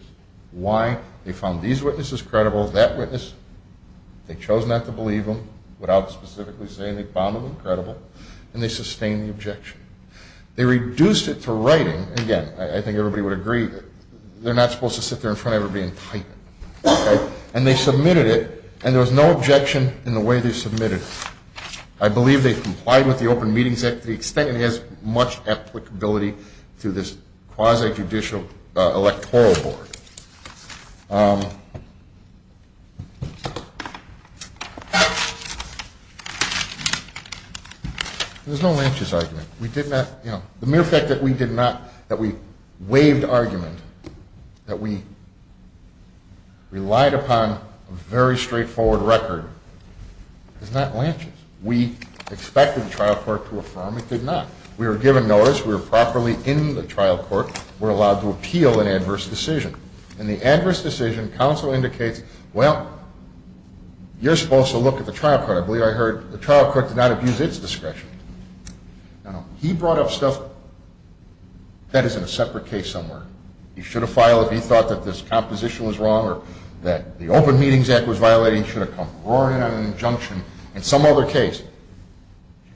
why they found these witnesses credible, that witness. They chose not to believe them without specifically saying they found them credible. And they sustained the objection. They reduced it to writing. Again, I think everybody would agree they're not supposed to sit there in front of everybody and type it. And they submitted it, and there was no objection in the way they submitted it. I believe they complied with the Open Meetings Act to the extent it has much applicability to this quasi-judicial electoral board. There's no Lanch's argument. The mere fact that we waived argument, that we relied upon a very straightforward record, is not Lanch's. We expected the trial court to affirm. It did not. We were given notice. We were properly in the trial court. We were allowed to appeal an adverse decision. In the adverse decision, counsel indicates, well, you're supposed to look at the trial court. I believe I heard the trial court did not abuse its discretion. Now, he brought up stuff that is in a separate case somewhere. He should have filed if he thought that this composition was wrong or that the Open Meetings Act was violating. He should have come roaring in on an injunction in some other case.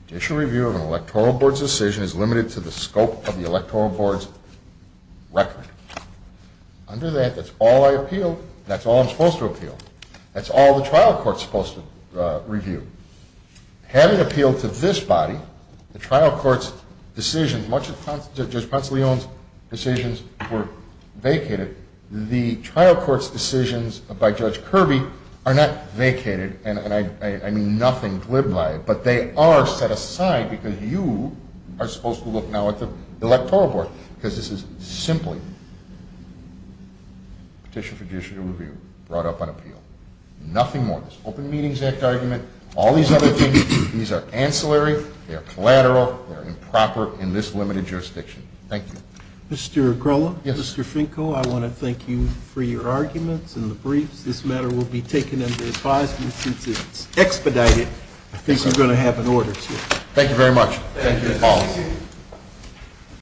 Judicial review of an electoral board's decision is limited to the scope of the electoral board's record. Under that, that's all I appealed. That's all I'm supposed to appeal. That's all the trial court's supposed to review. Having appealed to this body, the trial court's decisions, much of Judge Ponce de Leon's decisions were vacated. The trial court's decisions by Judge Kirby are not vacated, and I mean nothing glib by it, but they are set aside because you are supposed to look now at the electoral board because this is simply petition for judicial review brought up on appeal. Nothing more. This Open Meetings Act argument, all these other things, these are ancillary. They are collateral. They are improper in this limited jurisdiction. Thank you. Mr. Grolla? Yes. Mr. Finko, I want to thank you for your arguments and the briefs. This matter will be taken under advisement since it's expedited. I think you're going to have an order, too. Thank you very much. Thank you. Thank you.